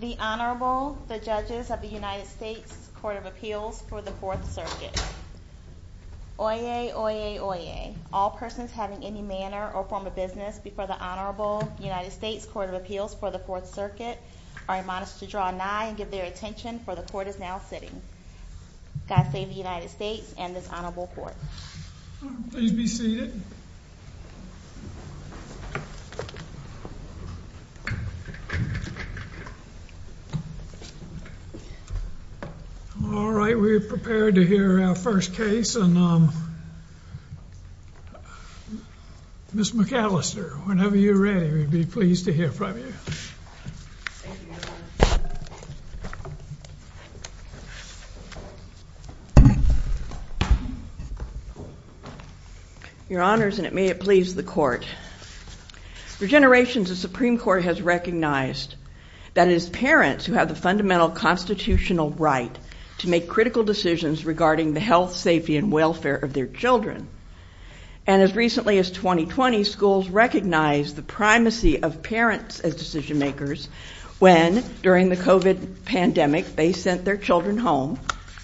The Honorable, the Judges of the United States Court of Appeals for the Fourth Circuit. Oyez, oyez, oyez. All persons having any manner or form of business before the Honorable United States Court of Appeals for the Fourth Circuit are admonished to draw nigh and give their attention, for the Court is now sitting. God save the United States and this Honorable Court. Please be seated. All right, we're prepared to hear our first case and Miss McAllister, whenever you're ready, we'd be pleased to hear from you. Thank you, Your Honor. Your Honors, and may it please the Court. For generations, the Supreme Court has recognized that it is parents who have the fundamental constitutional right to make critical decisions regarding the health, safety and welfare of their children. And as recently as 2020, schools recognize the primacy of parents as decision makers, when, during the COVID pandemic, they sent their children home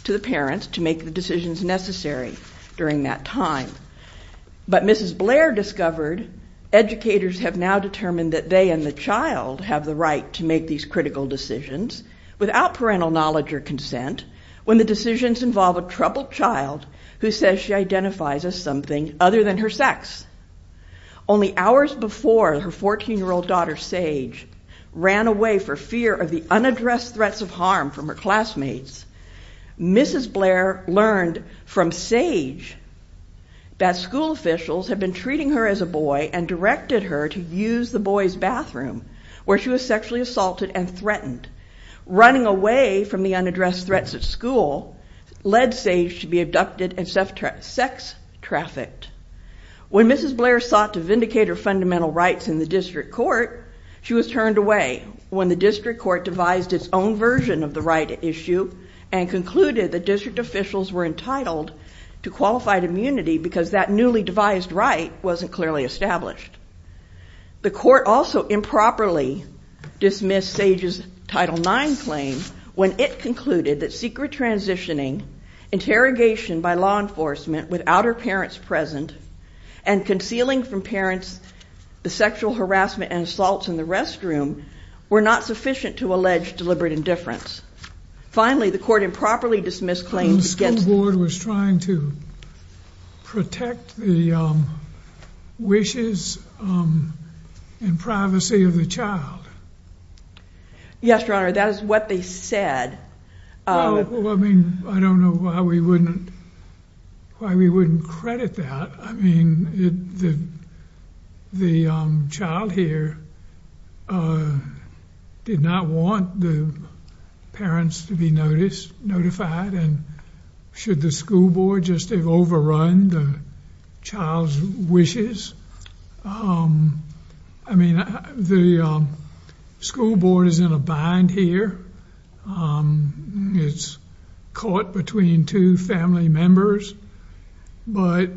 to the parents to make the decisions necessary during that time. But Mrs. Blair discovered educators have now determined that they and the child have the right to make these critical decisions without parental knowledge or consent, when the decisions involve a troubled child who says she identifies as something other than her sex. Only hours before her 14-year-old daughter, Sage, ran away for fear of the unaddressed threats of harm from her classmates, Mrs. Blair learned from Sage that school officials had been treating her as a boy and directed her to use the boy's bathroom, where she was sexually assaulted and threatened. Running away from the unaddressed threats at school led Sage to be abducted and sex-trafficked. When Mrs. Blair sought to vindicate her fundamental rights in the district court, she was turned away when the district court devised its own version of the right issue and concluded that district officials were entitled to qualified immunity because that newly devised right wasn't clearly established. The court also improperly dismissed Sage's Title IX claim when it concluded that secret transitioning, interrogation by law enforcement without her parents present, and concealing from parents the sexual harassment and assaults in the restroom were not sufficient to allege deliberate indifference. Finally, the court improperly dismissed claims against... The school board was trying to protect the wishes and privacy of the child. Yes, Your Honor, that is what they said. Well, I mean, I don't know why we wouldn't credit that. I mean, the child here did not want the parents to be notified, and should the school board just have overrun the child's wishes? I mean, the school board is in a bind here. It's caught between two family members, but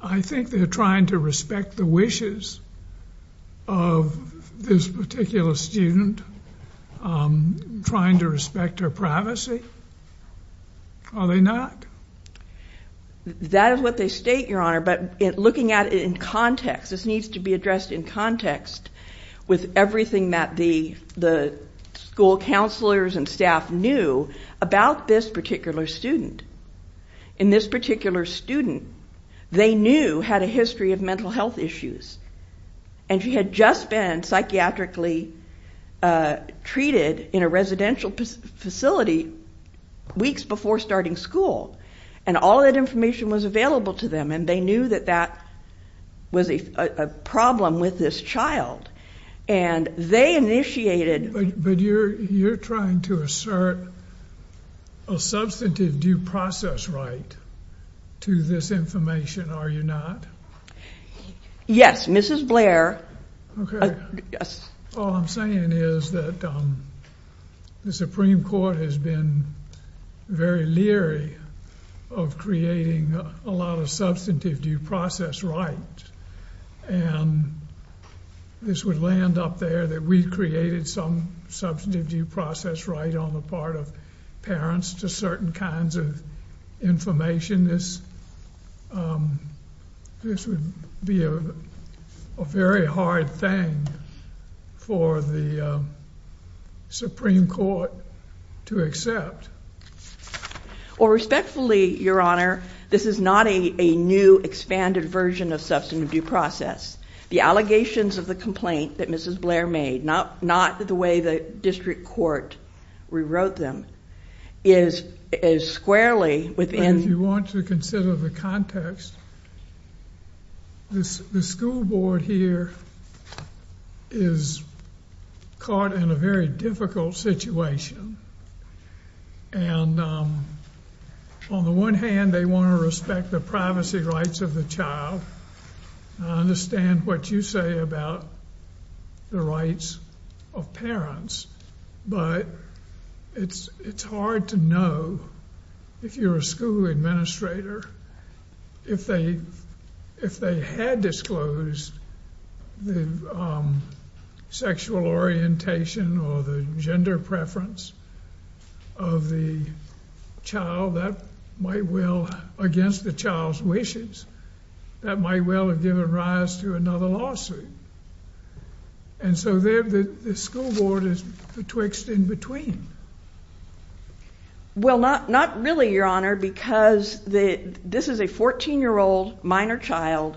I think they're trying to respect the wishes of this particular student, trying to respect her privacy. Are they not? That is what they state, Your Honor, but looking at it in context, this needs to be addressed in context with everything that the school counselors and staff knew about this particular student. In this particular student, they knew, had a history of mental health issues, and she had just been psychiatrically treated in a residential facility weeks before starting school, and all that information was available to them, and they knew that that was a problem with this child, and they initiated... But you're trying to assert a substantive due process right to this information, are you not? Yes, Mrs. Blair. All I'm saying is that the Supreme Court has been very leery of creating a lot of substantive due process rights, and this would land up there that we created some substantive due process right on the part of parents to certain kinds of information. This would be a very hard thing for the Supreme Court to accept. Well, respectfully, Your Honor, this is not a new expanded version of substantive due process. The allegations of the complaint that Mrs. Blair made, not the way the district court rewrote them, is squarely within... If you want to consider the context, the school board here is caught in a very difficult situation, and on the one hand, they want to respect the privacy rights of the child. I understand what you say about the rights of parents, but it's hard to know, if you're a school administrator, if they had disclosed the sexual orientation or the gender preference of the child, that might well... Against the child's wishes, that might well have given rise to another lawsuit. And so the school board is betwixt in between. Well, not really, Your Honor, because this is a 14-year-old minor child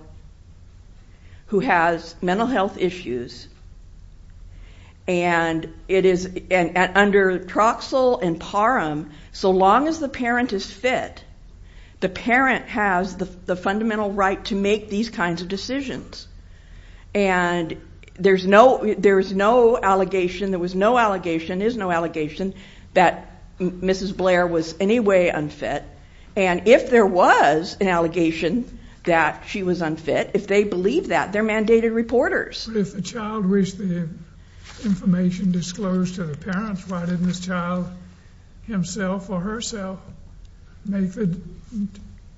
who has mental health issues, and under troxel and parum, so long as the parent is fit, the parent has the fundamental right to make these kinds of decisions. And there's no allegation, there was no allegation, is no allegation that Mrs. Blair was in any way unfit, and if there was an allegation that she was unfit, if they believe that, they're mandated reporters. If the child wished the information disclosed to the parents, why didn't this child himself or herself make the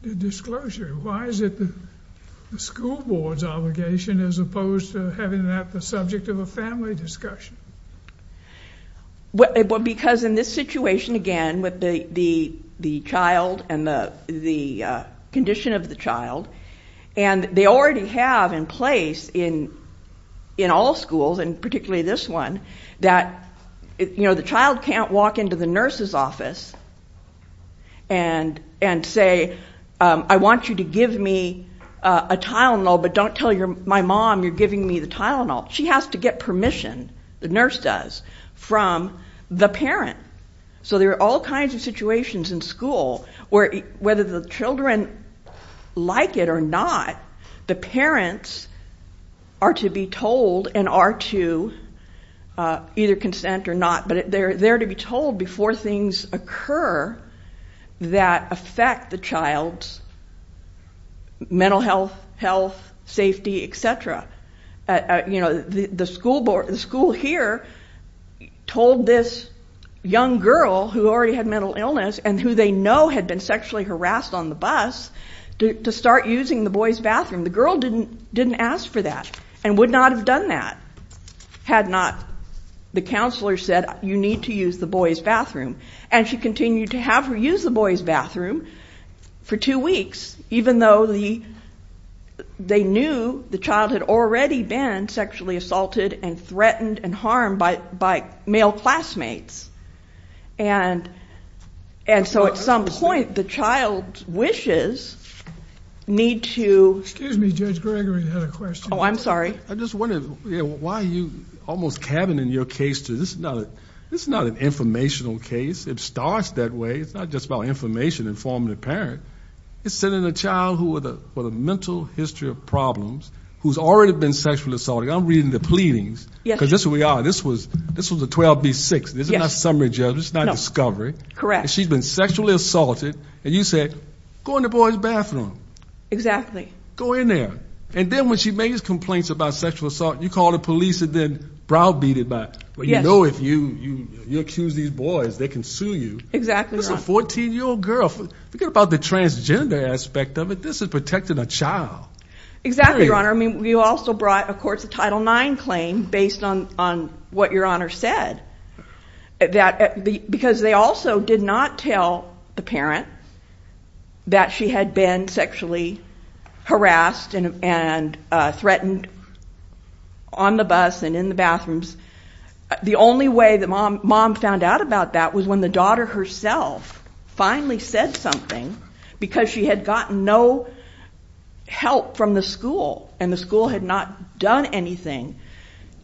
disclosure? Why is it the school board's obligation as opposed to having that the subject of a family discussion? Because in this situation, again, with the child and the condition of the child, and they already have in place in all schools, and particularly this one, that the child can't walk into the nurse's office and say, I want you to give me a Tylenol, but don't tell my mom you're giving me the Tylenol. She has to get permission, the nurse does, from the parent. So there are all kinds of situations in school where, whether the children like it or not, the parents are to be told and are to either consent or not, but they're there to be told before things occur that affect the child's mental health, health, safety, etc. The school here told this young girl who already had mental illness and who they know had been sexually harassed on the bus to start using the boys' bathroom. The girl didn't ask for that and would not have done that had not the counselor said, you need to use the boys' bathroom. And she continued to have her use the boys' bathroom for two weeks, even though they knew the child had already been sexually assaulted and threatened and harmed by male classmates. And so at some point, the child's wishes need to... Excuse me, Judge Gregory had a question. Oh, I'm sorry. I just wondered why you almost cabin in your case to, this is not an informational case. It starts that way. It's not just about information informing the parent. It's sending a child with a mental history of problems who's already been sexually assaulted. I'm reading the pleadings because this is who we are. This was a 12B6. This is not summary judgment. This is not discovery. Correct. She's been sexually assaulted, and you said, go in the boys' bathroom. Exactly. Go in there. And then when she makes complaints about sexual assault, you call the police and then browbeat it back. You know if you accuse these boys, they can sue you. Exactly, Your Honor. This is a 14-year-old girl. Forget about the transgender aspect of it. This is protecting a child. Exactly, Your Honor. I mean, you also brought, of course, a Title IX claim based on what Your Honor said. Because they also did not tell the parent that she had been sexually harassed and threatened on the bus and in the bathrooms. The only way that mom found out about that was when the daughter herself finally said something because she had gotten no help from the school. And the school had not done anything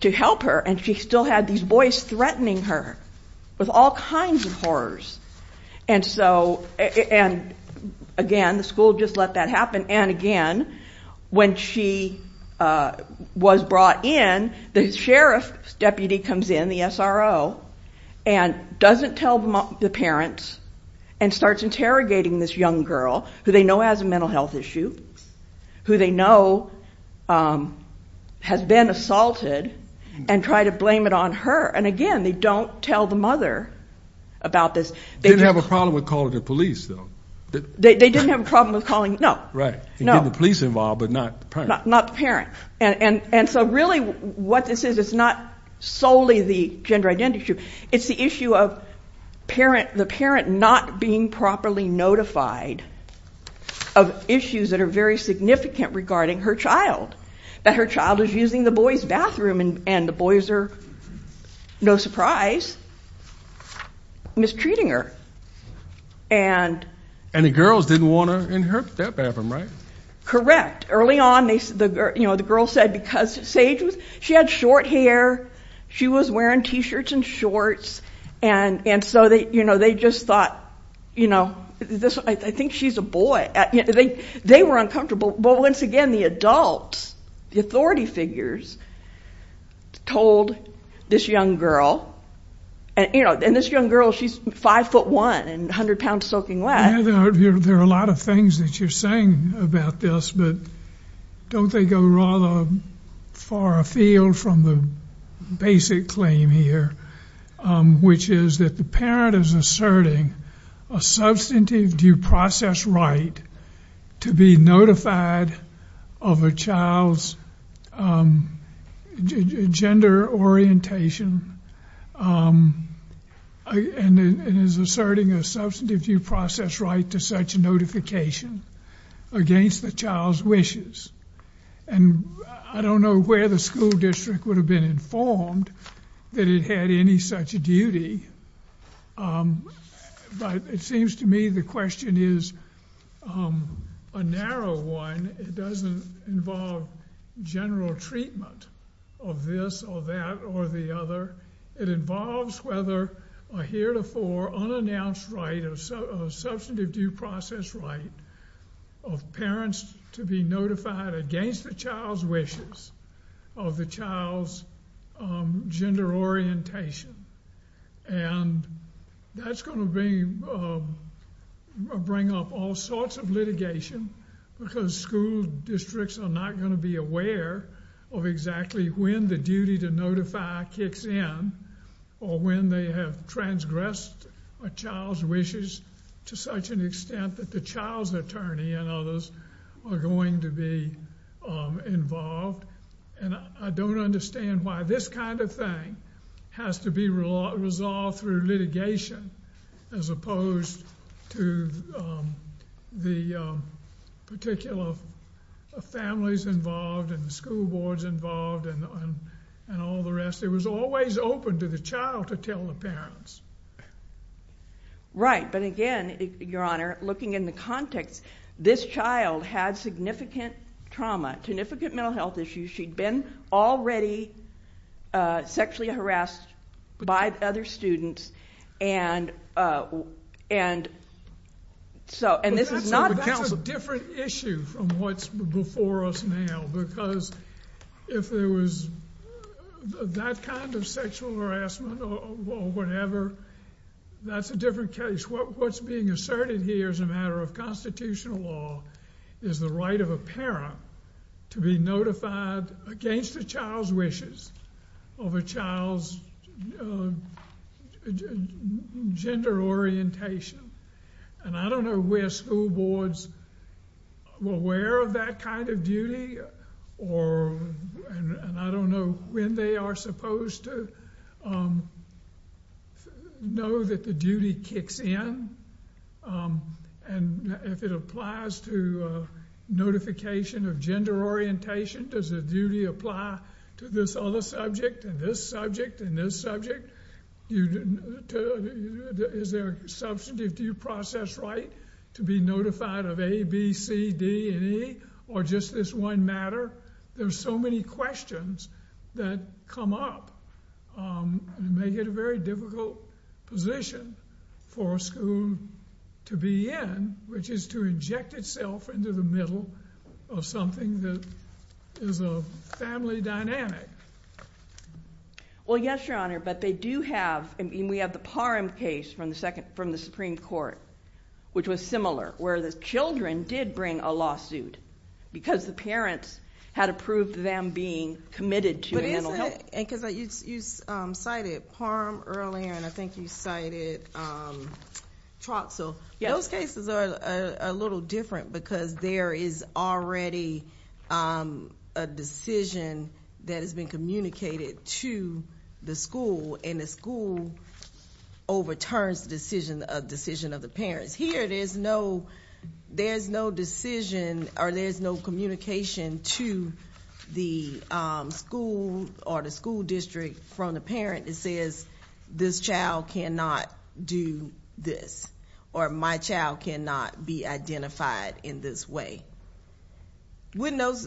to help her, and she still had these boys threatening her with all kinds of horrors. And so, again, the school just let that happen. And, again, when she was brought in, the sheriff's deputy comes in, the SRO, and doesn't tell the parents and starts interrogating this young girl, who they know has a mental health issue, who they know has been assaulted, and try to blame it on her. And, again, they don't tell the mother about this. They didn't have a problem with calling the police, though. They didn't have a problem with calling. No. Right. And getting the police involved, but not the parent. Not the parent. And so, really, what this is, it's not solely the gender identity issue. It's the issue of the parent not being properly notified of issues that are very significant regarding her child, that her child is using the boys' bathroom, and the boys are, no surprise, mistreating her. And the girls didn't want her in their bathroom, right? Correct. Early on, the girls said because Sage, she had short hair. She was wearing T-shirts and shorts. And so they just thought, you know, I think she's a boy. They were uncomfortable. But, once again, the adults, the authority figures, told this young girl. And, you know, this young girl, she's 5'1", and 100 pounds soaking wet. There are a lot of things that you're saying about this, but don't they go rather far afield from the basic claim here, which is that the parent is asserting a substantive due process right to be notified of a child's gender orientation and is asserting a substantive due process right to such notification against the child's wishes. And I don't know where the school district would have been informed that it had any such duty. But it seems to me the question is a narrow one. It doesn't involve general treatment of this or that or the other. It involves whether a heretofore unannounced right of substantive due process right of parents to be notified against the child's wishes of the child's gender orientation. And that's going to bring up all sorts of litigation because school districts are not going to be aware of exactly when the duty to notify kicks in or when they have transgressed a child's wishes to such an extent that the child's attorney and others are going to be involved. And I don't understand why this kind of thing has to be resolved through litigation as opposed to the particular families involved and the school boards involved and all the rest. It was always open to the child to tell the parents. Right. But again, Your Honor, looking in the context, this child had significant trauma, significant mental health issues. She'd been already sexually harassed by other students. That's a different issue from what's before us now because if there was that kind of sexual harassment or whatever, that's a different case. What's being asserted here as a matter of constitutional law is the right of a parent to be notified against the child's wishes of a child's gender orientation. And I don't know where school boards were aware of that kind of duty and I don't know when they are supposed to know that the duty kicks in. And if it applies to notification of gender orientation, does the duty apply to this other subject and this subject and this subject? Is there a substantive due process right to be notified of A, B, C, D, and E or just this one matter? There's so many questions that come up and make it a very difficult position for a school to be in, which is to inject itself into the middle of something that is a family dynamic. Well, yes, Your Honor, but we have the Parham case from the Supreme Court, which was similar, where the children did bring a lawsuit because the parents had approved them being committed to mental health. You cited Parham earlier and I think you cited Troxell. Those cases are a little different because there is already a decision that has been communicated to the school and the school overturns the decision of the parents. Whereas here, there's no decision or there's no communication to the school or the school district from the parent that says, this child cannot do this or my child cannot be identified in this way. Because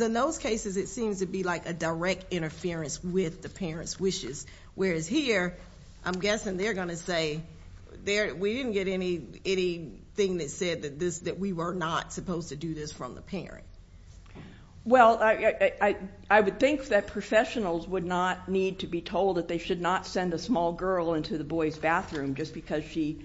in those cases, it seems to be like a direct interference with the parent's wishes. Whereas here, I'm guessing they're going to say, we didn't get anything that said that we were not supposed to do this from the parent. Well, I would think that professionals would not need to be told that they should not send a small girl into the boy's bathroom just because she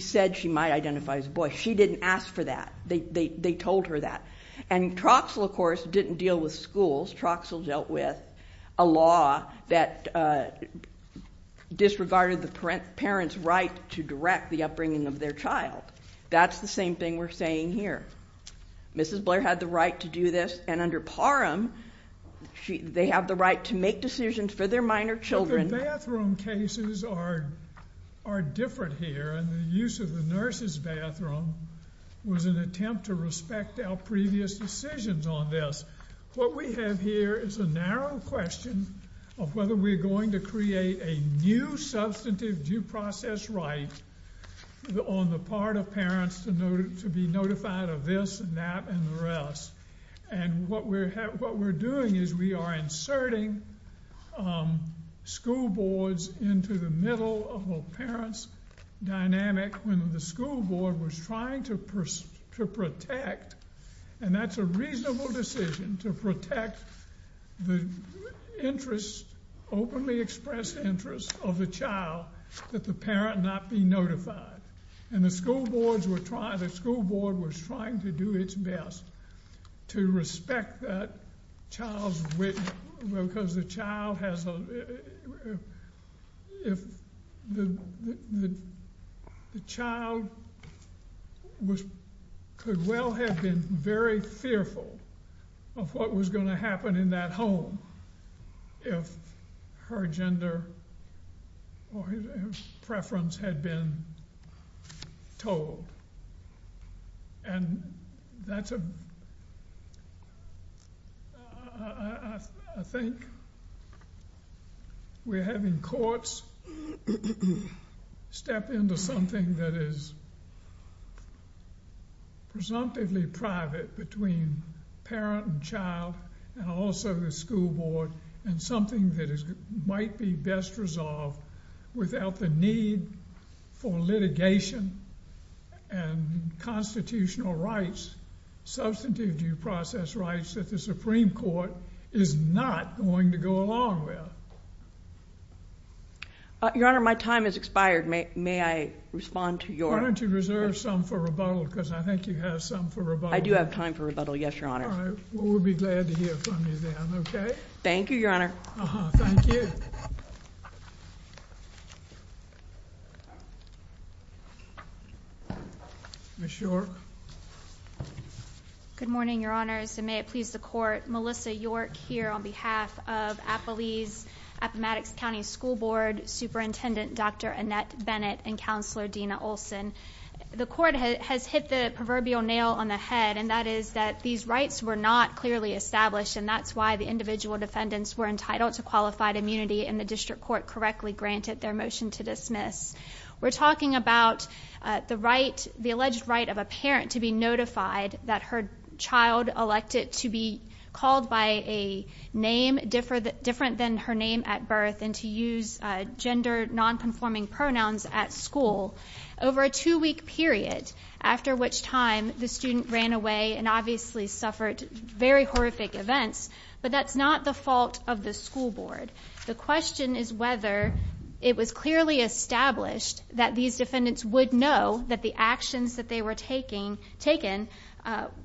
said she might identify as a boy. She didn't ask for that. They told her that. And Troxell, of course, didn't deal with schools. Troxell dealt with a law that disregarded the parent's right to direct the upbringing of their child. That's the same thing we're saying here. Mrs. Blair had the right to do this and under Parham, they have the right to make decisions for their minor children. The bathroom cases are different here and the use of the nurse's bathroom was an attempt to respect our previous decisions on this. What we have here is a narrow question of whether we're going to create a new substantive due process right on the part of parents to be notified of this and that and the rest. And what we're doing is we are inserting school boards into the middle of a parent's dynamic when the school board was trying to protect, and that's a reasonable decision, to protect the interest, openly expressed interest of the child that the parent not be notified. And the school boards were trying, the school board was trying to do its best to respect that child's, because the child has a, if the child could well have been very fearful of what was going to happen in that home if her gender or her preference had been told. And that's a, I think we're having courts step into something that is presumptively private between parent and child and also the school board and something that might be best resolved without the need for litigation and constitutional rights, substantive due process rights that the Supreme Court is not going to go along with. Your Honor, my time has expired. May I respond to your... Why don't you reserve some for rebuttal because I think you have some for rebuttal. I do have time for rebuttal, yes, Your Honor. All right, well we'll be glad to hear from you then, okay? Thank you, Your Honor. Thank you. Ms. York. Good morning, Your Honors, and may it please the court, Melissa York here on behalf of Appalese Appomattox County School Board Superintendent Dr. Annette Bennett and Counselor Dena Olson. The court has hit the proverbial nail on the head and that is that these rights were not clearly established and that's why the individual defendants were entitled to qualified immunity and the district court correctly granted their motion to dismiss. We're talking about the right, the alleged right of a parent to be notified that her child elected to be called by a name different than her name at birth and to use gender non-conforming pronouns at school. Over a two-week period, after which time the student ran away and obviously suffered very horrific events, but that's not the fault of the school board. The question is whether it was clearly established that these defendants would know that the actions that they were taking, taken,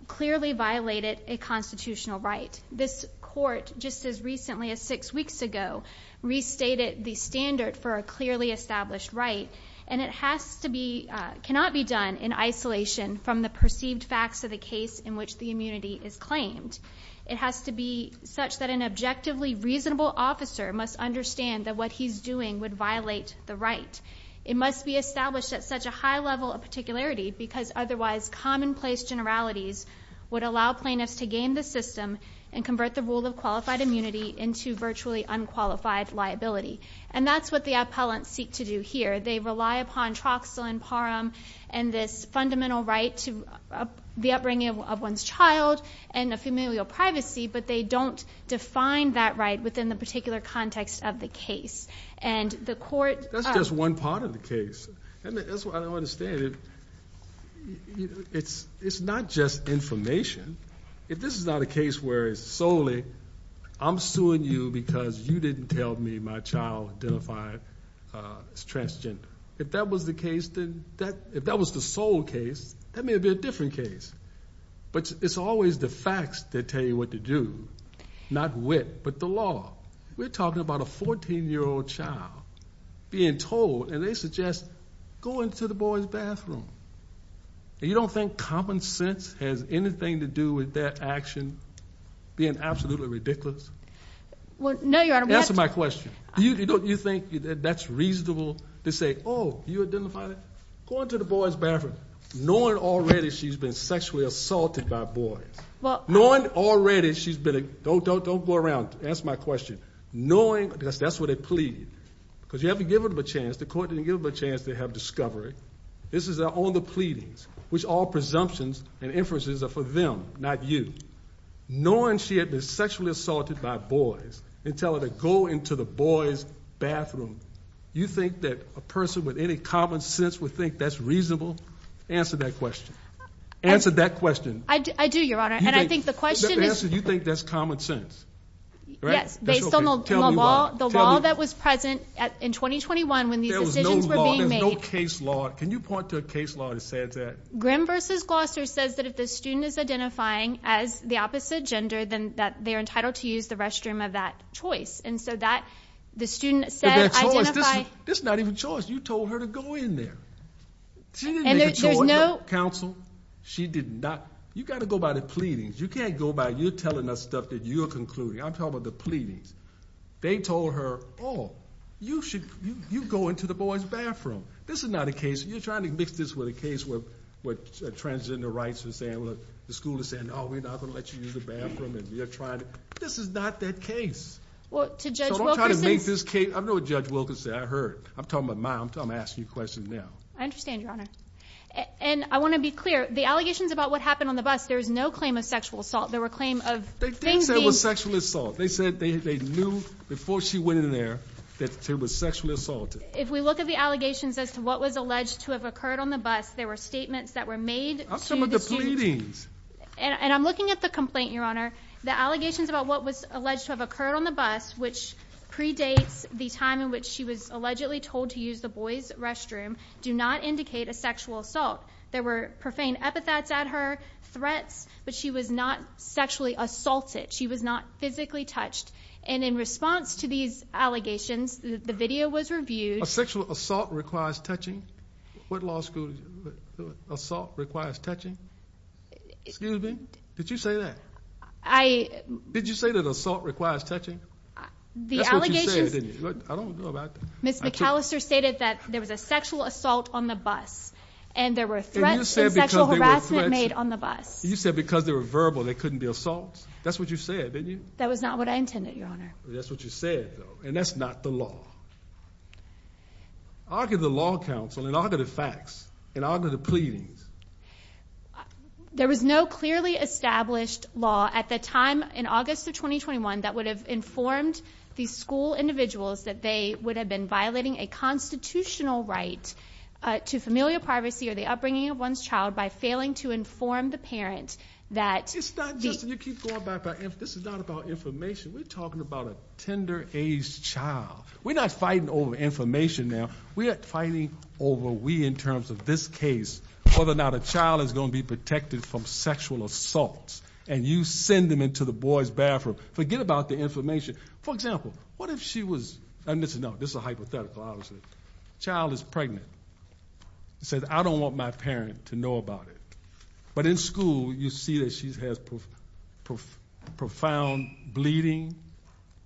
clearly violated a constitutional right. This court, just as recently as six weeks ago, restated the standard for a clearly established right and it has to be, cannot be done in isolation from the perceived facts of the case in which the immunity is claimed. It has to be such that an objectively reasonable officer must understand that what he's doing would violate the right. It must be established at such a high level of particularity because otherwise commonplace generalities would allow plaintiffs to game the system and convert the rule of qualified immunity into virtually unqualified liability. And that's what the appellants seek to do here. They rely upon troxel and parum and this fundamental right to the upbringing of one's child and a familial privacy, but they don't define that right within the particular context of the case. That's just one part of the case. That's what I don't understand. It's not just information. If this is not a case where it's solely, I'm suing you because you didn't tell me my child identified as transgender. If that was the case, if that was the sole case, that may be a different case, but it's always the facts that tell you what to do, not wit, but the law. We're talking about a 14-year-old child being told, and they suggest, go into the boy's bathroom. You don't think common sense has anything to do with their action being absolutely ridiculous? No, Your Honor. Answer my question. You think that's reasonable to say, oh, you identified it? Go into the boy's bathroom knowing already she's been sexually assaulted by boys. Knowing already she's been, don't go around, ask my question, knowing, because that's what they plead. Because you haven't given them a chance, the court didn't give them a chance to have discovery. This is on the pleadings, which all presumptions and inferences are for them, not you. Knowing she had been sexually assaulted by boys and tell her to go into the boy's bathroom, you think that a person with any common sense would think that's reasonable? Answer that question. Answer that question. I do, Your Honor, and I think the question is. The answer is you think that's common sense, right? Yes, based on the law that was present in 2021 when these decisions were being made. There was no law, there was no case law. Can you point to a case law that says that? Grimm v. Gloucester says that if the student is identifying as the opposite gender, then they're entitled to use the restroom of that choice. And so that, the student said, identify. But that choice, this is not even choice. You told her to go in there. She didn't make a choice. And there's no. Counsel, she did not. You've got to go by the pleadings. You can't go by, you're telling us stuff that you're concluding. I'm talking about the pleadings. They told her, oh, you should, you go into the boy's bathroom. This is not a case. You're trying to mix this with a case where transgender rights are saying, well, the school is saying, oh, we're not going to let you use the bathroom, and you're trying to. This is not that case. Well, to Judge Wilkerson. So don't try to make this case. I know what Judge Wilkerson said. I heard. I'm talking about mine. I'm asking you a question now. I understand, Your Honor. And I want to be clear. The allegations about what happened on the bus, there is no claim of sexual assault. There were claims of things being. They didn't say it was sexual assault. They said they knew before she went in there that she was sexually assaulted. If we look at the allegations as to what was alleged to have occurred on the bus, there were statements that were made to the students. I'm talking about the pleadings. And I'm looking at the complaint, Your Honor. The allegations about what was alleged to have occurred on the bus, which predates the time in which she was allegedly told to use the boys' restroom, do not indicate a sexual assault. There were profane epithets at her, threats, but she was not sexually assaulted. She was not physically touched. And in response to these allegations, the video was reviewed. A sexual assault requires touching? What law school assault requires touching? Excuse me? Did you say that? Did you say that assault requires touching? That's what you said, didn't you? I don't know about that. Ms. McAllister stated that there was a sexual assault on the bus. And there were threats and sexual harassment made on the bus. You said because they were verbal, there couldn't be assaults? That's what you said, didn't you? That was not what I intended, Your Honor. That's what you said, though. And that's not the law. Argue the law counsel and argue the facts and argue the pleadings. There was no clearly established law at the time in August of 2021 that would have informed these school individuals that they would have been violating a constitutional right to familial privacy or the upbringing of one's child by failing to inform the parent that the— It's not just—you keep going back. This is not about information. We're talking about a tender-aged child. We're not fighting over information now. We're fighting over we, in terms of this case, whether or not a child is going to be protected from sexual assaults. And you send them into the boy's bathroom. Forget about the information. For example, what if she was— No, this is a hypothetical, obviously. Child is pregnant. Says, I don't want my parent to know about it. But in school, you see that she has profound bleeding,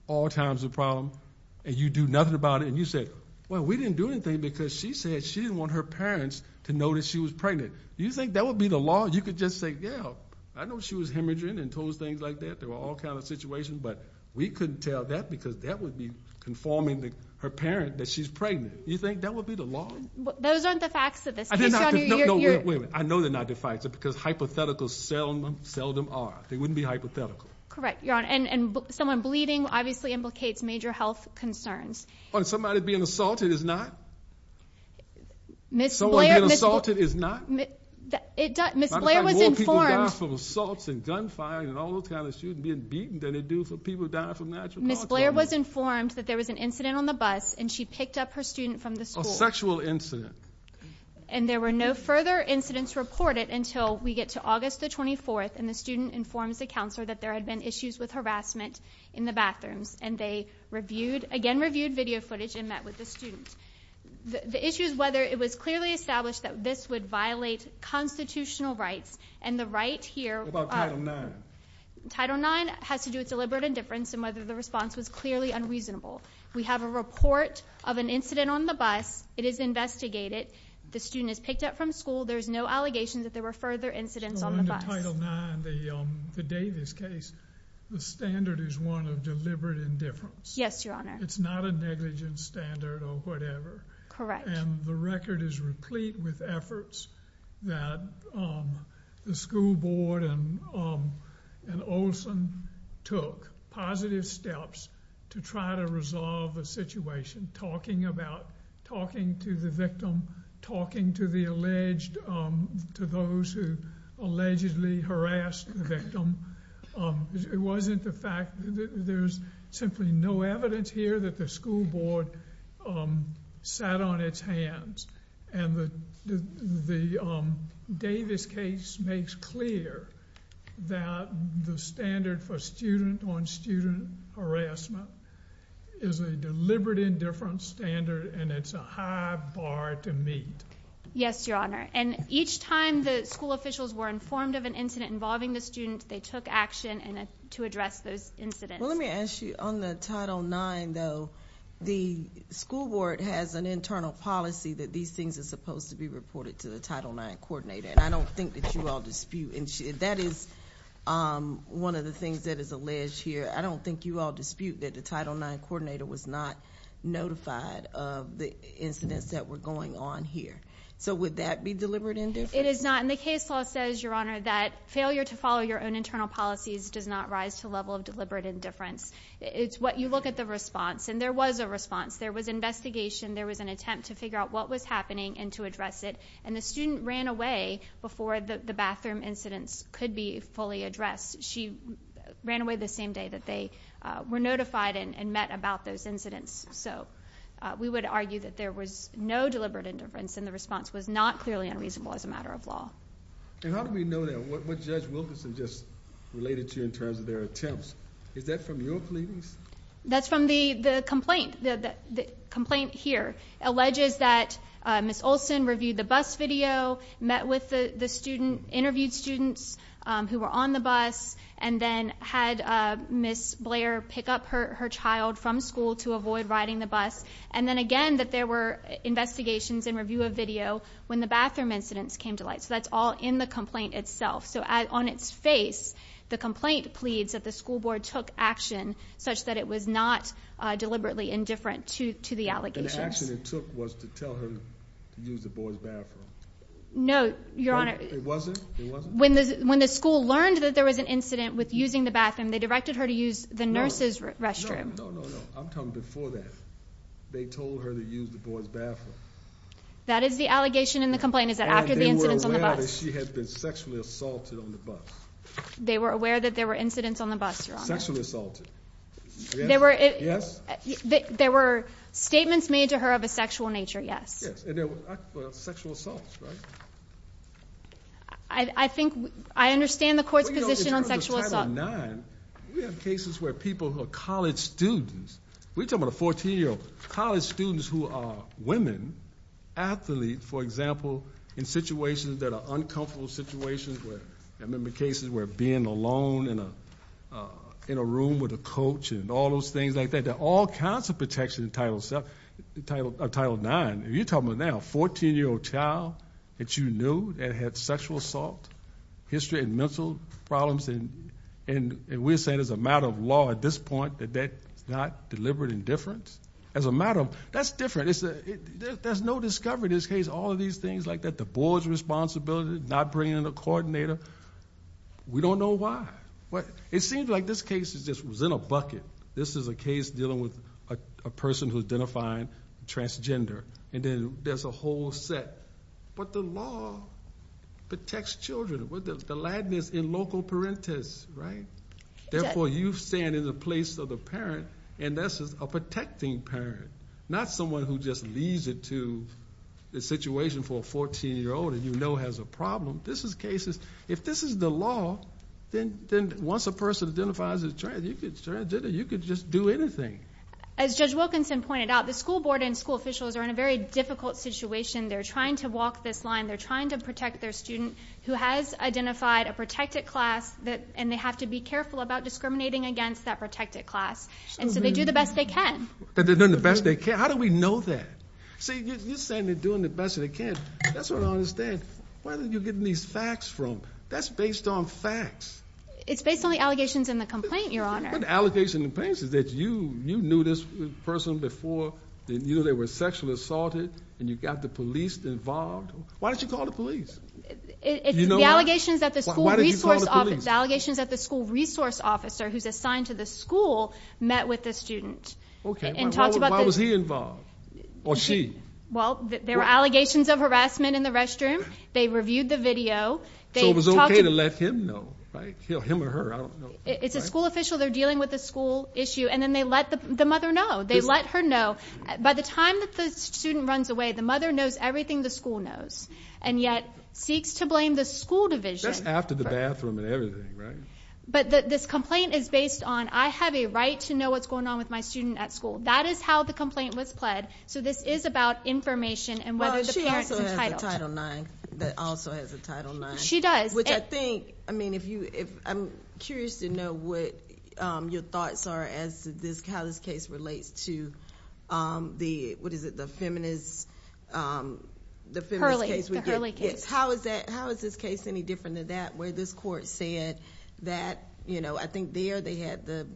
all times a problem. And you do nothing about it. And you said, well, we didn't do anything because she said she didn't want her parents to know that she was pregnant. Do you think that would be the law? You could just say, yeah, I know she was hemorrhaging and told us things like that. There were all kinds of situations. But we couldn't tell that because that would be informing her parent that she's pregnant. Do you think that would be the law? Those aren't the facts of this case, Your Honor. No, wait a minute. I know they're not the facts because hypotheticals seldom are. They wouldn't be hypothetical. Correct, Your Honor. And someone bleeding obviously implicates major health concerns. Somebody being assaulted is not? Someone being assaulted is not? Ms. Blair was informed. A lot of times more people die from assaults and gunfire and all those kinds of issues than being beaten than they do from people dying from natural causes. Ms. Blair was informed that there was an incident on the bus, and she picked up her student from the school. A sexual incident. And there were no further incidents reported until we get to August the 24th, and the student informs the counselor that there had been issues with harassment in the bathrooms. And they again reviewed video footage and met with the student. The issue is whether it was clearly established that this would violate constitutional rights, and the right here. What about Title IX? Title IX has to do with deliberate indifference and whether the response was clearly unreasonable. We have a report of an incident on the bus. It is investigated. The student is picked up from school. There's no allegation that there were further incidents on the bus. In Title IX, the Davis case, the standard is one of deliberate indifference. Yes, Your Honor. It's not a negligent standard or whatever. Correct. And the record is replete with efforts that the school board and Olson took positive steps to try to resolve the situation, talking about, talking to the victim, talking to the alleged, to those who allegedly harassed the victim. It wasn't the fact that there's simply no evidence here that the school board sat on its hands. And the Davis case makes clear that the standard for student-on-student harassment is a deliberate indifference standard, and it's a high bar to meet. Yes, Your Honor. And each time the school officials were informed of an incident involving the student, they took action to address those incidents. Well, let me ask you, on the Title IX, though, the school board has an internal policy that these things are supposed to be reported to the Title IX coordinator, and I don't think that you all dispute. That is one of the things that is alleged here. I don't think you all dispute that the Title IX coordinator was not notified of the incidents that were going on here. So would that be deliberate indifference? It is not. And the case law says, Your Honor, that failure to follow your own internal policies does not rise to the level of deliberate indifference. It's what you look at the response, and there was a response. There was investigation. There was an attempt to figure out what was happening and to address it, and the student ran away before the bathroom incidents could be fully addressed. She ran away the same day that they were notified and met about those incidents. So we would argue that there was no deliberate indifference and the response was not clearly unreasonable as a matter of law. And how do we know that? What Judge Wilkerson just related to in terms of their attempts, is that from your pleadings? That's from the complaint here. It alleges that Ms. Olsen reviewed the bus video, met with the student, interviewed students who were on the bus, and then had Ms. Blair pick up her child from school to avoid riding the bus, and then again that there were investigations and review of video when the bathroom incidents came to light. So that's all in the complaint itself. So on its face, the complaint pleads that the school board took action such that it was not deliberately indifferent to the allegations. The action it took was to tell her to use the boys' bathroom. No, Your Honor. It wasn't? When the school learned that there was an incident with using the bathroom, they directed her to use the nurse's restroom. No, no, no. I'm talking before that. They told her to use the boys' bathroom. That is the allegation in the complaint, is that after the incidents on the bus. They were aware that she had been sexually assaulted on the bus. They were aware that there were incidents on the bus, Your Honor. Sexually assaulted. Yes? There were statements made to her of a sexual nature, yes. Yes, and there were sexual assaults, right? I think I understand the court's position on sexual assault. In terms of Title IX, we have cases where people who are college students. We're talking about a 14-year-old. College students who are women, athletes, for example, in situations that are uncomfortable situations. I remember cases where being alone in a room with a coach and all those things like that. There are all kinds of protections in Title IX. You're talking about now a 14-year-old child that you knew that had sexual assault, history and mental problems, and we're saying as a matter of law at this point that that's not deliberate indifference. That's different. There's no discovery in this case. All of these things like that, the board's responsibility, not bringing in a coordinator. We don't know why. It seems like this case was in a bucket. This is a case dealing with a person who identified transgender, and then there's a whole set. But the law protects children. The Latin is in loco parentis, right? Therefore, you stand in the place of the parent, and that's a protecting parent, not someone who just leaves it to the situation for a 14-year-old that you know has a problem. This is cases. If this is the law, then once a person identifies as transgender, you could just do anything. As Judge Wilkinson pointed out, the school board and school officials are in a very difficult situation. They're trying to walk this line. They're trying to protect their student who has identified a protected class, and they have to be careful about discriminating against that protected class. And so they do the best they can. They're doing the best they can. How do we know that? See, you're saying they're doing the best they can. That's what I don't understand. Where are you getting these facts from? That's based on facts. It's based on the allegations in the complaint, Your Honor. What allegations in the complaint is that you knew this person before, and you knew they were sexually assaulted, and you got the police involved? Why don't you call the police? The allegations at the school resource officer who's assigned to the school met with the student. Why was he involved? Or she? Well, there were allegations of harassment in the restroom. They reviewed the video. So it was okay to let him know, right? Him or her, I don't know. It's a school official. They're dealing with a school issue, and then they let the mother know. They let her know. By the time that the student runs away, the mother knows everything the school knows, and yet seeks to blame the school division. That's after the bathroom and everything, right? But this complaint is based on I have a right to know what's going on with my student at school. That is how the complaint was pled. So this is about information and whether the parent is entitled. She also has a Title IX. That also has a Title IX. She does. Which I think, I mean, I'm curious to know what your thoughts are as to how this case relates to the, what is it, the feminist case? The Hurley case. How is this case any different than that where this court said that, you know, I think there they had the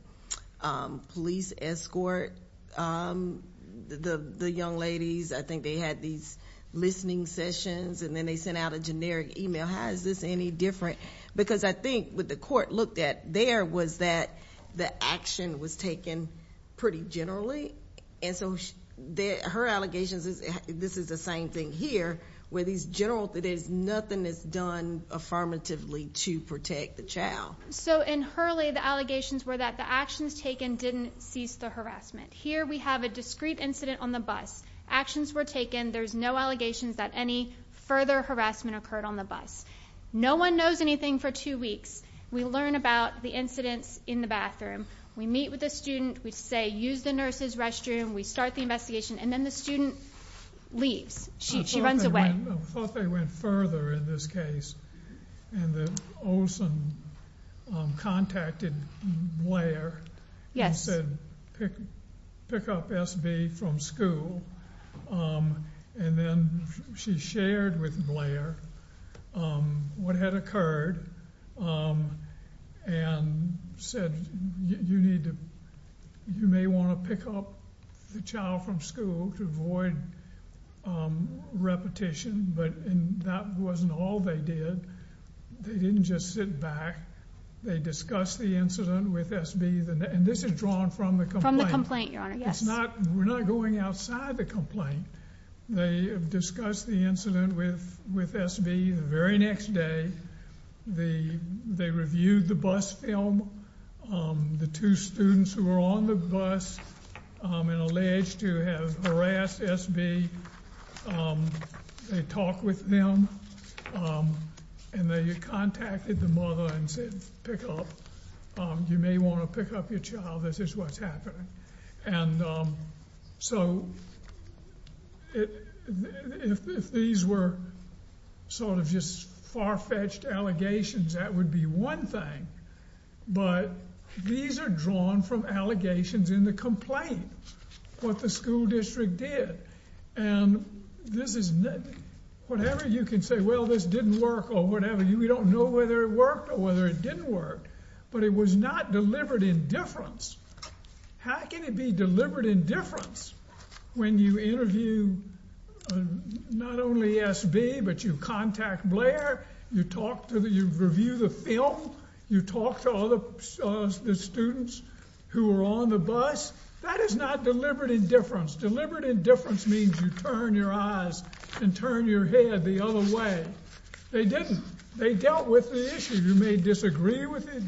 police escort the young ladies. I think they had these listening sessions, and then they sent out a generic e-mail. How is this any different? Because I think what the court looked at there was that the action was taken pretty generally, and so her allegations is this is the same thing here where these general, there's nothing that's done affirmatively to protect the child. So in Hurley the allegations were that the actions taken didn't cease the harassment. Here we have a discrete incident on the bus. Actions were taken. There's no allegations that any further harassment occurred on the bus. No one knows anything for two weeks. We learn about the incidents in the bathroom. We meet with the student. We say use the nurse's restroom. We start the investigation, and then the student leaves. She runs away. I thought they went further in this case and that Olson contacted Blair. Yes. He said pick up SB from school, and then she shared with Blair what had occurred and said you may want to pick up the child from school to avoid repetition, but that wasn't all they did. They didn't just sit back. They discussed the incident with SB, and this is drawn from the complaint. From the complaint, Your Honor, yes. We're not going outside the complaint. They discussed the incident with SB. The very next day they reviewed the bus film. The two students who were on the bus and alleged to have harassed SB, they talked with them, and they contacted the mother and said pick up. You may want to pick up your child. This is what's happening. So if these were sort of just far-fetched allegations, that would be one thing, but these are drawn from allegations in the complaint, what the school district did. Whatever you can say, well, this didn't work or whatever. We don't know whether it worked or whether it didn't work, but it was not deliberate indifference. How can it be deliberate indifference when you interview not only SB, but you contact Blair, you review the film, you talk to other students who were on the bus? That is not deliberate indifference. Deliberate indifference means you turn your eyes and turn your head the other way. They didn't. They dealt with the issue. You may disagree with it.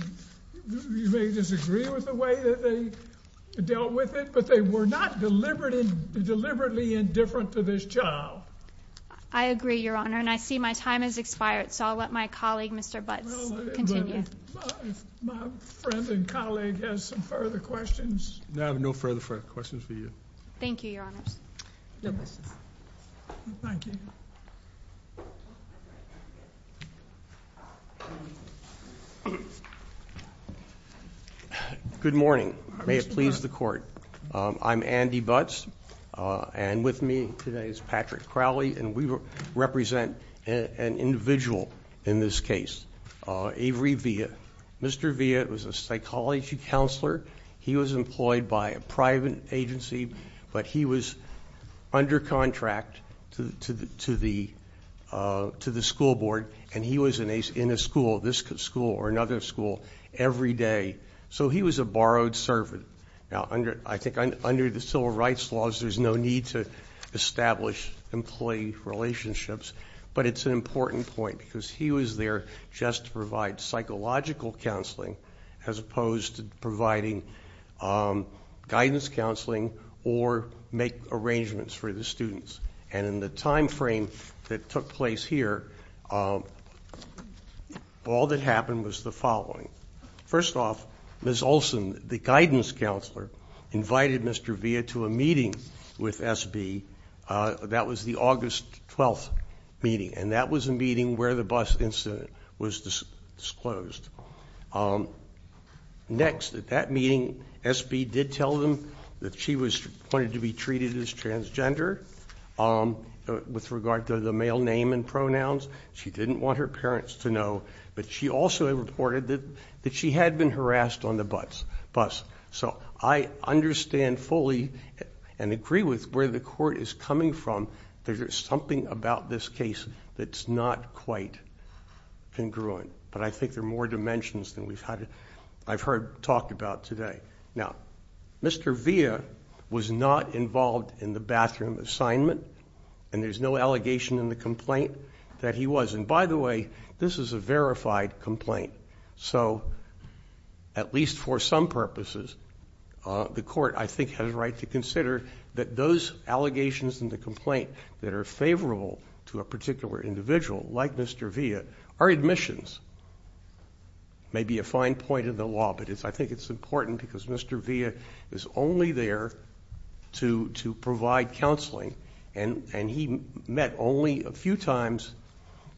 You may disagree with the way that they dealt with it, but they were not deliberately indifferent to this child. I agree, Your Honor, and I see my time has expired, so I'll let my colleague, Mr. Butts, continue. If my friend and colleague has some further questions. No further questions for you. Thank you, Your Honors. No questions. Thank you. Good morning. May it please the Court. I'm Andy Butts, and with me today is Patrick Crowley, and we represent an individual in this case, Avery Villa. Mr. Villa was a psychology counselor. He was employed by a private agency, but he was under contract to the school board, and he was in a school, this school or another school, every day. So he was a borrowed servant. Now, I think under the civil rights laws, there's no need to establish employee relationships, but it's an important point because he was there just to provide psychological counseling as opposed to providing guidance counseling or make arrangements for the students. And in the time frame that took place here, all that happened was the following. First off, Ms. Olsen, the guidance counselor, invited Mr. Villa to a meeting with SB. That was the August 12th meeting, and that was a meeting where the bus incident was disclosed. Next, at that meeting, SB did tell them that she wanted to be treated as transgender with regard to the male name and pronouns. She didn't want her parents to know, but she also reported that she had been harassed on the bus. So I understand fully and agree with where the Court is coming from. There's something about this case that's not quite congruent, but I think there are more dimensions than I've heard talked about today. Now, Mr. Villa was not involved in the bathroom assignment, and there's no allegation in the complaint that he was. And by the way, this is a verified complaint, so at least for some purposes, the Court, I think, has a right to consider that those allegations in the complaint that are favorable to a particular individual, like Mr. Villa, are admissions. It may be a fine point in the law, but I think it's important because Mr. Villa is only there to provide counseling, and he met only a few times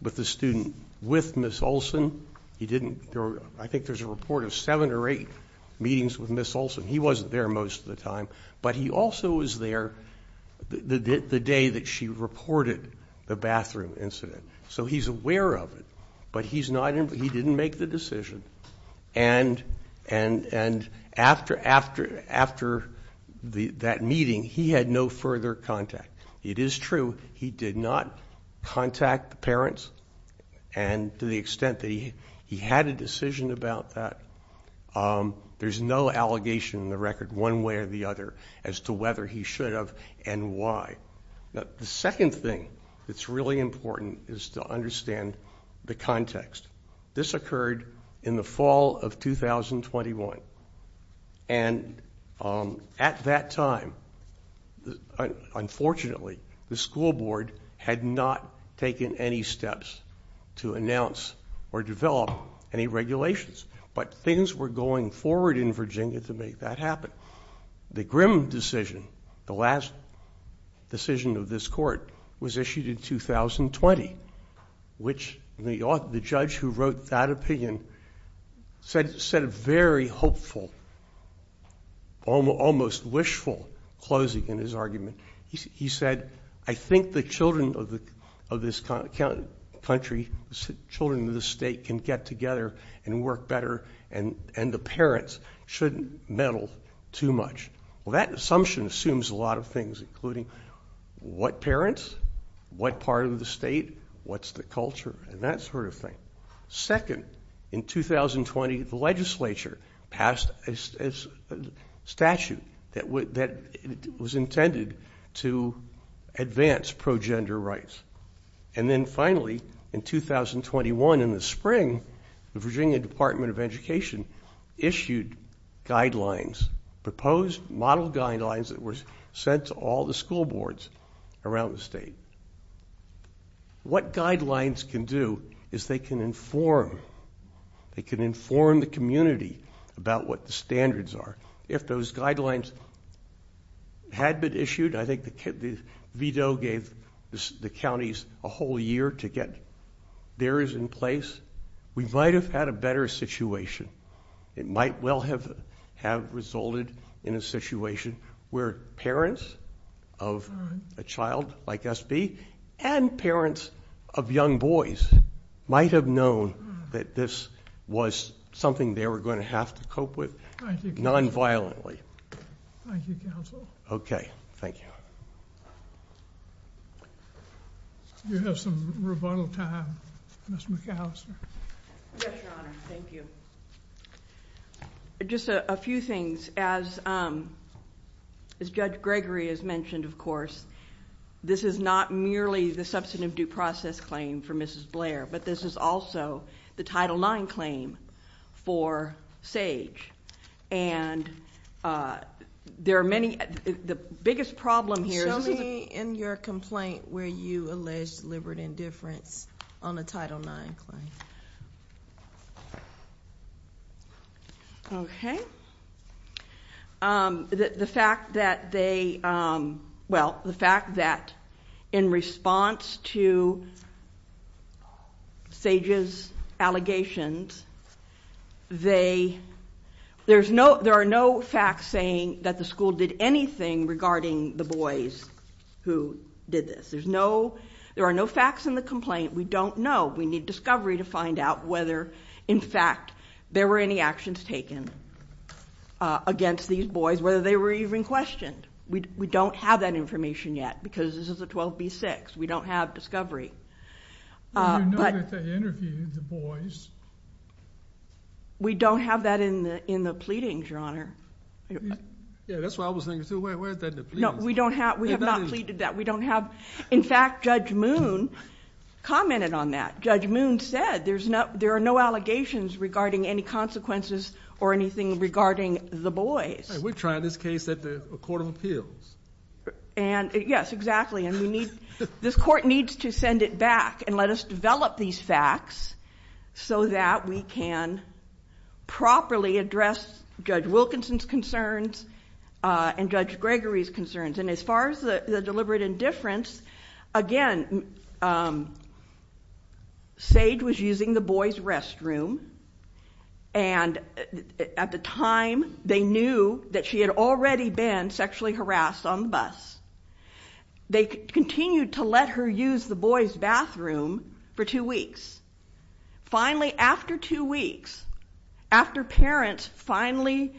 with the student with Ms. Olsen. I think there's a report of seven or eight meetings with Ms. Olsen. He wasn't there most of the time, but he also was there the day that she reported the bathroom incident. So he's aware of it, but he didn't make the decision, and after that meeting, he had no further contact. It is true he did not contact the parents, and to the extent that he had a decision about that, there's no allegation in the record one way or the other as to whether he should have and why. The second thing that's really important is to understand the context. This occurred in the fall of 2021, and at that time, unfortunately, the school board had not taken any steps to announce or develop any regulations. But things were going forward in Virginia to make that happen. The Grimm decision, the last decision of this court, was issued in 2020, which the judge who wrote that opinion said a very hopeful, almost wishful closing in his argument. He said, I think the children of this country, children of this state, can get together and work better, and the parents shouldn't meddle too much. Well, that assumption assumes a lot of things, including what parents, what part of the state, what's the culture, and that sort of thing. Second, in 2020, the legislature passed a statute that was intended to advance pro-gender rights. And then finally, in 2021, in the spring, the Virginia Department of Education issued guidelines, proposed model guidelines that were sent to all the school boards around the state. What guidelines can do is they can inform the community about what the standards are. If those guidelines had been issued, I think the veto gave the counties a whole year to get theirs in place, we might have had a better situation. It might well have resulted in a situation where parents of a child like SB and parents of young boys might have known that this was something they were going to have to cope with nonviolently. Thank you, counsel. Okay, thank you. You have some rebuttal time, Ms. McAllister. Yes, your honor. Thank you. Just a few things. As Judge Gregory has mentioned, of course, this is not merely the substantive due process claim for Mrs. Blair, but this is also the Title IX claim for Sage. And there are many... the biggest problem here... Show me in your complaint where you allege deliberate indifference on a Title IX claim. Okay. The fact that they... well, the fact that in response to Sage's allegations, there are no facts saying that the school did anything regarding the boys who did this. There are no facts in the complaint. We don't know. We need discovery to find out whether, in fact, there were any actions taken against these boys, whether they were even questioned. We don't have that information yet because this is a 12b-6. We don't have discovery. Well, you know that they interviewed the boys. We don't have that in the pleadings, your honor. Yeah, that's what I was thinking too. Where is that in the pleadings? No, we don't have... we have not pleaded that. We don't have... in fact, Judge Moon commented on that. Judge Moon said there are no allegations regarding any consequences or anything regarding the boys. We're trying this case at the Court of Appeals. And, yes, exactly. And we need... this Court needs to send it back and let us develop these facts so that we can properly address Judge Wilkinson's concerns and Judge Gregory's concerns. And as far as the deliberate indifference, again, Sage was using the boys' restroom, and at the time they knew that she had already been sexually harassed on the bus. They continued to let her use the boys' bathroom for two weeks. Finally, after two weeks, after parents finally...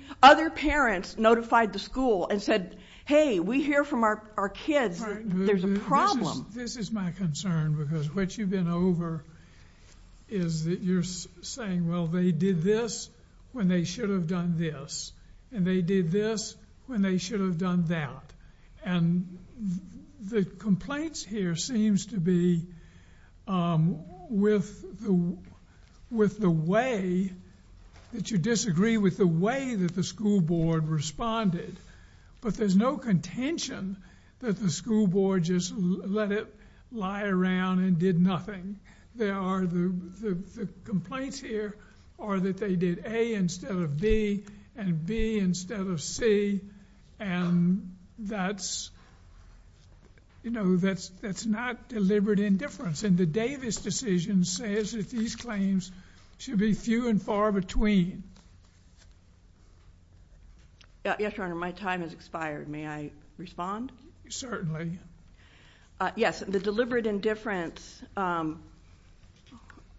We hear from our kids that there's a problem. This is my concern because what you've been over is that you're saying, well, they did this when they should have done this, and they did this when they should have done that. And the complaints here seems to be with the way that you disagree with the way that the school board responded. But there's no contention that the school board just let it lie around and did nothing. There are... the complaints here are that they did A instead of B and B instead of C, and that's... you know, that's not deliberate indifference. And the Davis decision says that these claims should be few and far between. Yes, Your Honor, my time has expired. May I respond? Certainly. Yes, the deliberate indifference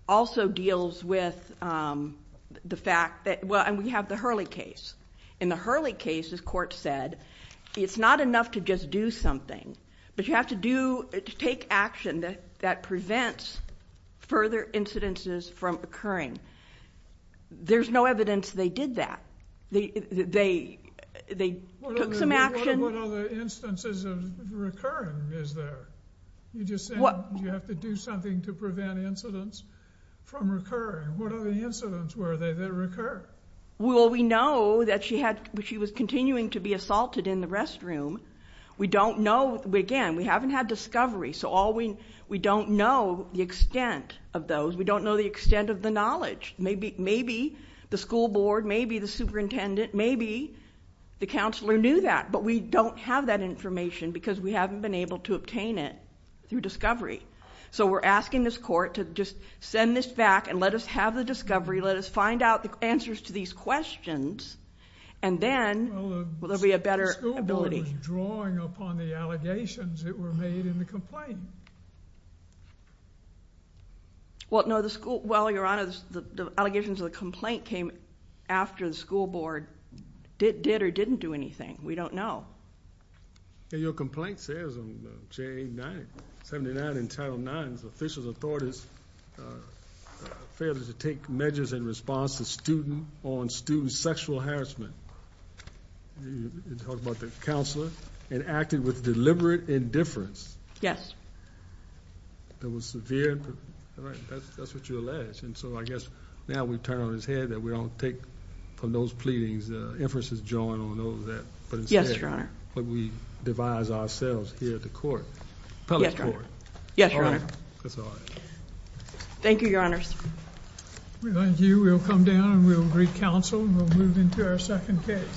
also deals with the fact that... Well, and we have the Hurley case. In the Hurley case, as court said, it's not enough to just do something, but you have to do... to take action that prevents further incidences from occurring. There's no evidence they did that. They took some action. What other instances of recurring is there? You just said you have to do something to prevent incidents from recurring. What other incidents were there that recurred? Well, we know that she had... she was continuing to be assaulted in the restroom. We don't know... again, we haven't had discovery, so all we... We don't know the extent of those. We don't know the extent of the knowledge. Maybe the school board, maybe the superintendent, maybe the counselor knew that, but we don't have that information because we haven't been able to obtain it through discovery. So we're asking this court to just send this back and let us have the discovery, let us find out the answers to these questions, and then there'll be a better ability... Well, no, the school... well, Your Honor, the allegations of the complaint came after the school board did or didn't do anything. We don't know. Your complaint says on page 79 in Title IX, officials and authorities failed to take measures in response to student... on student sexual harassment. You talk about the counselor, and acted with deliberate indifference. Yes. There was severe... that's what you allege. And so I guess now we turn on his head that we don't take from those pleadings the inferences drawn on those that... Yes, Your Honor. But we devise ourselves here at the court, appellate court. Yes, Your Honor. All right. That's all I have. Thank you, Your Honors. Thank you. We'll come down, and we'll greet counsel, and we'll move into our second case.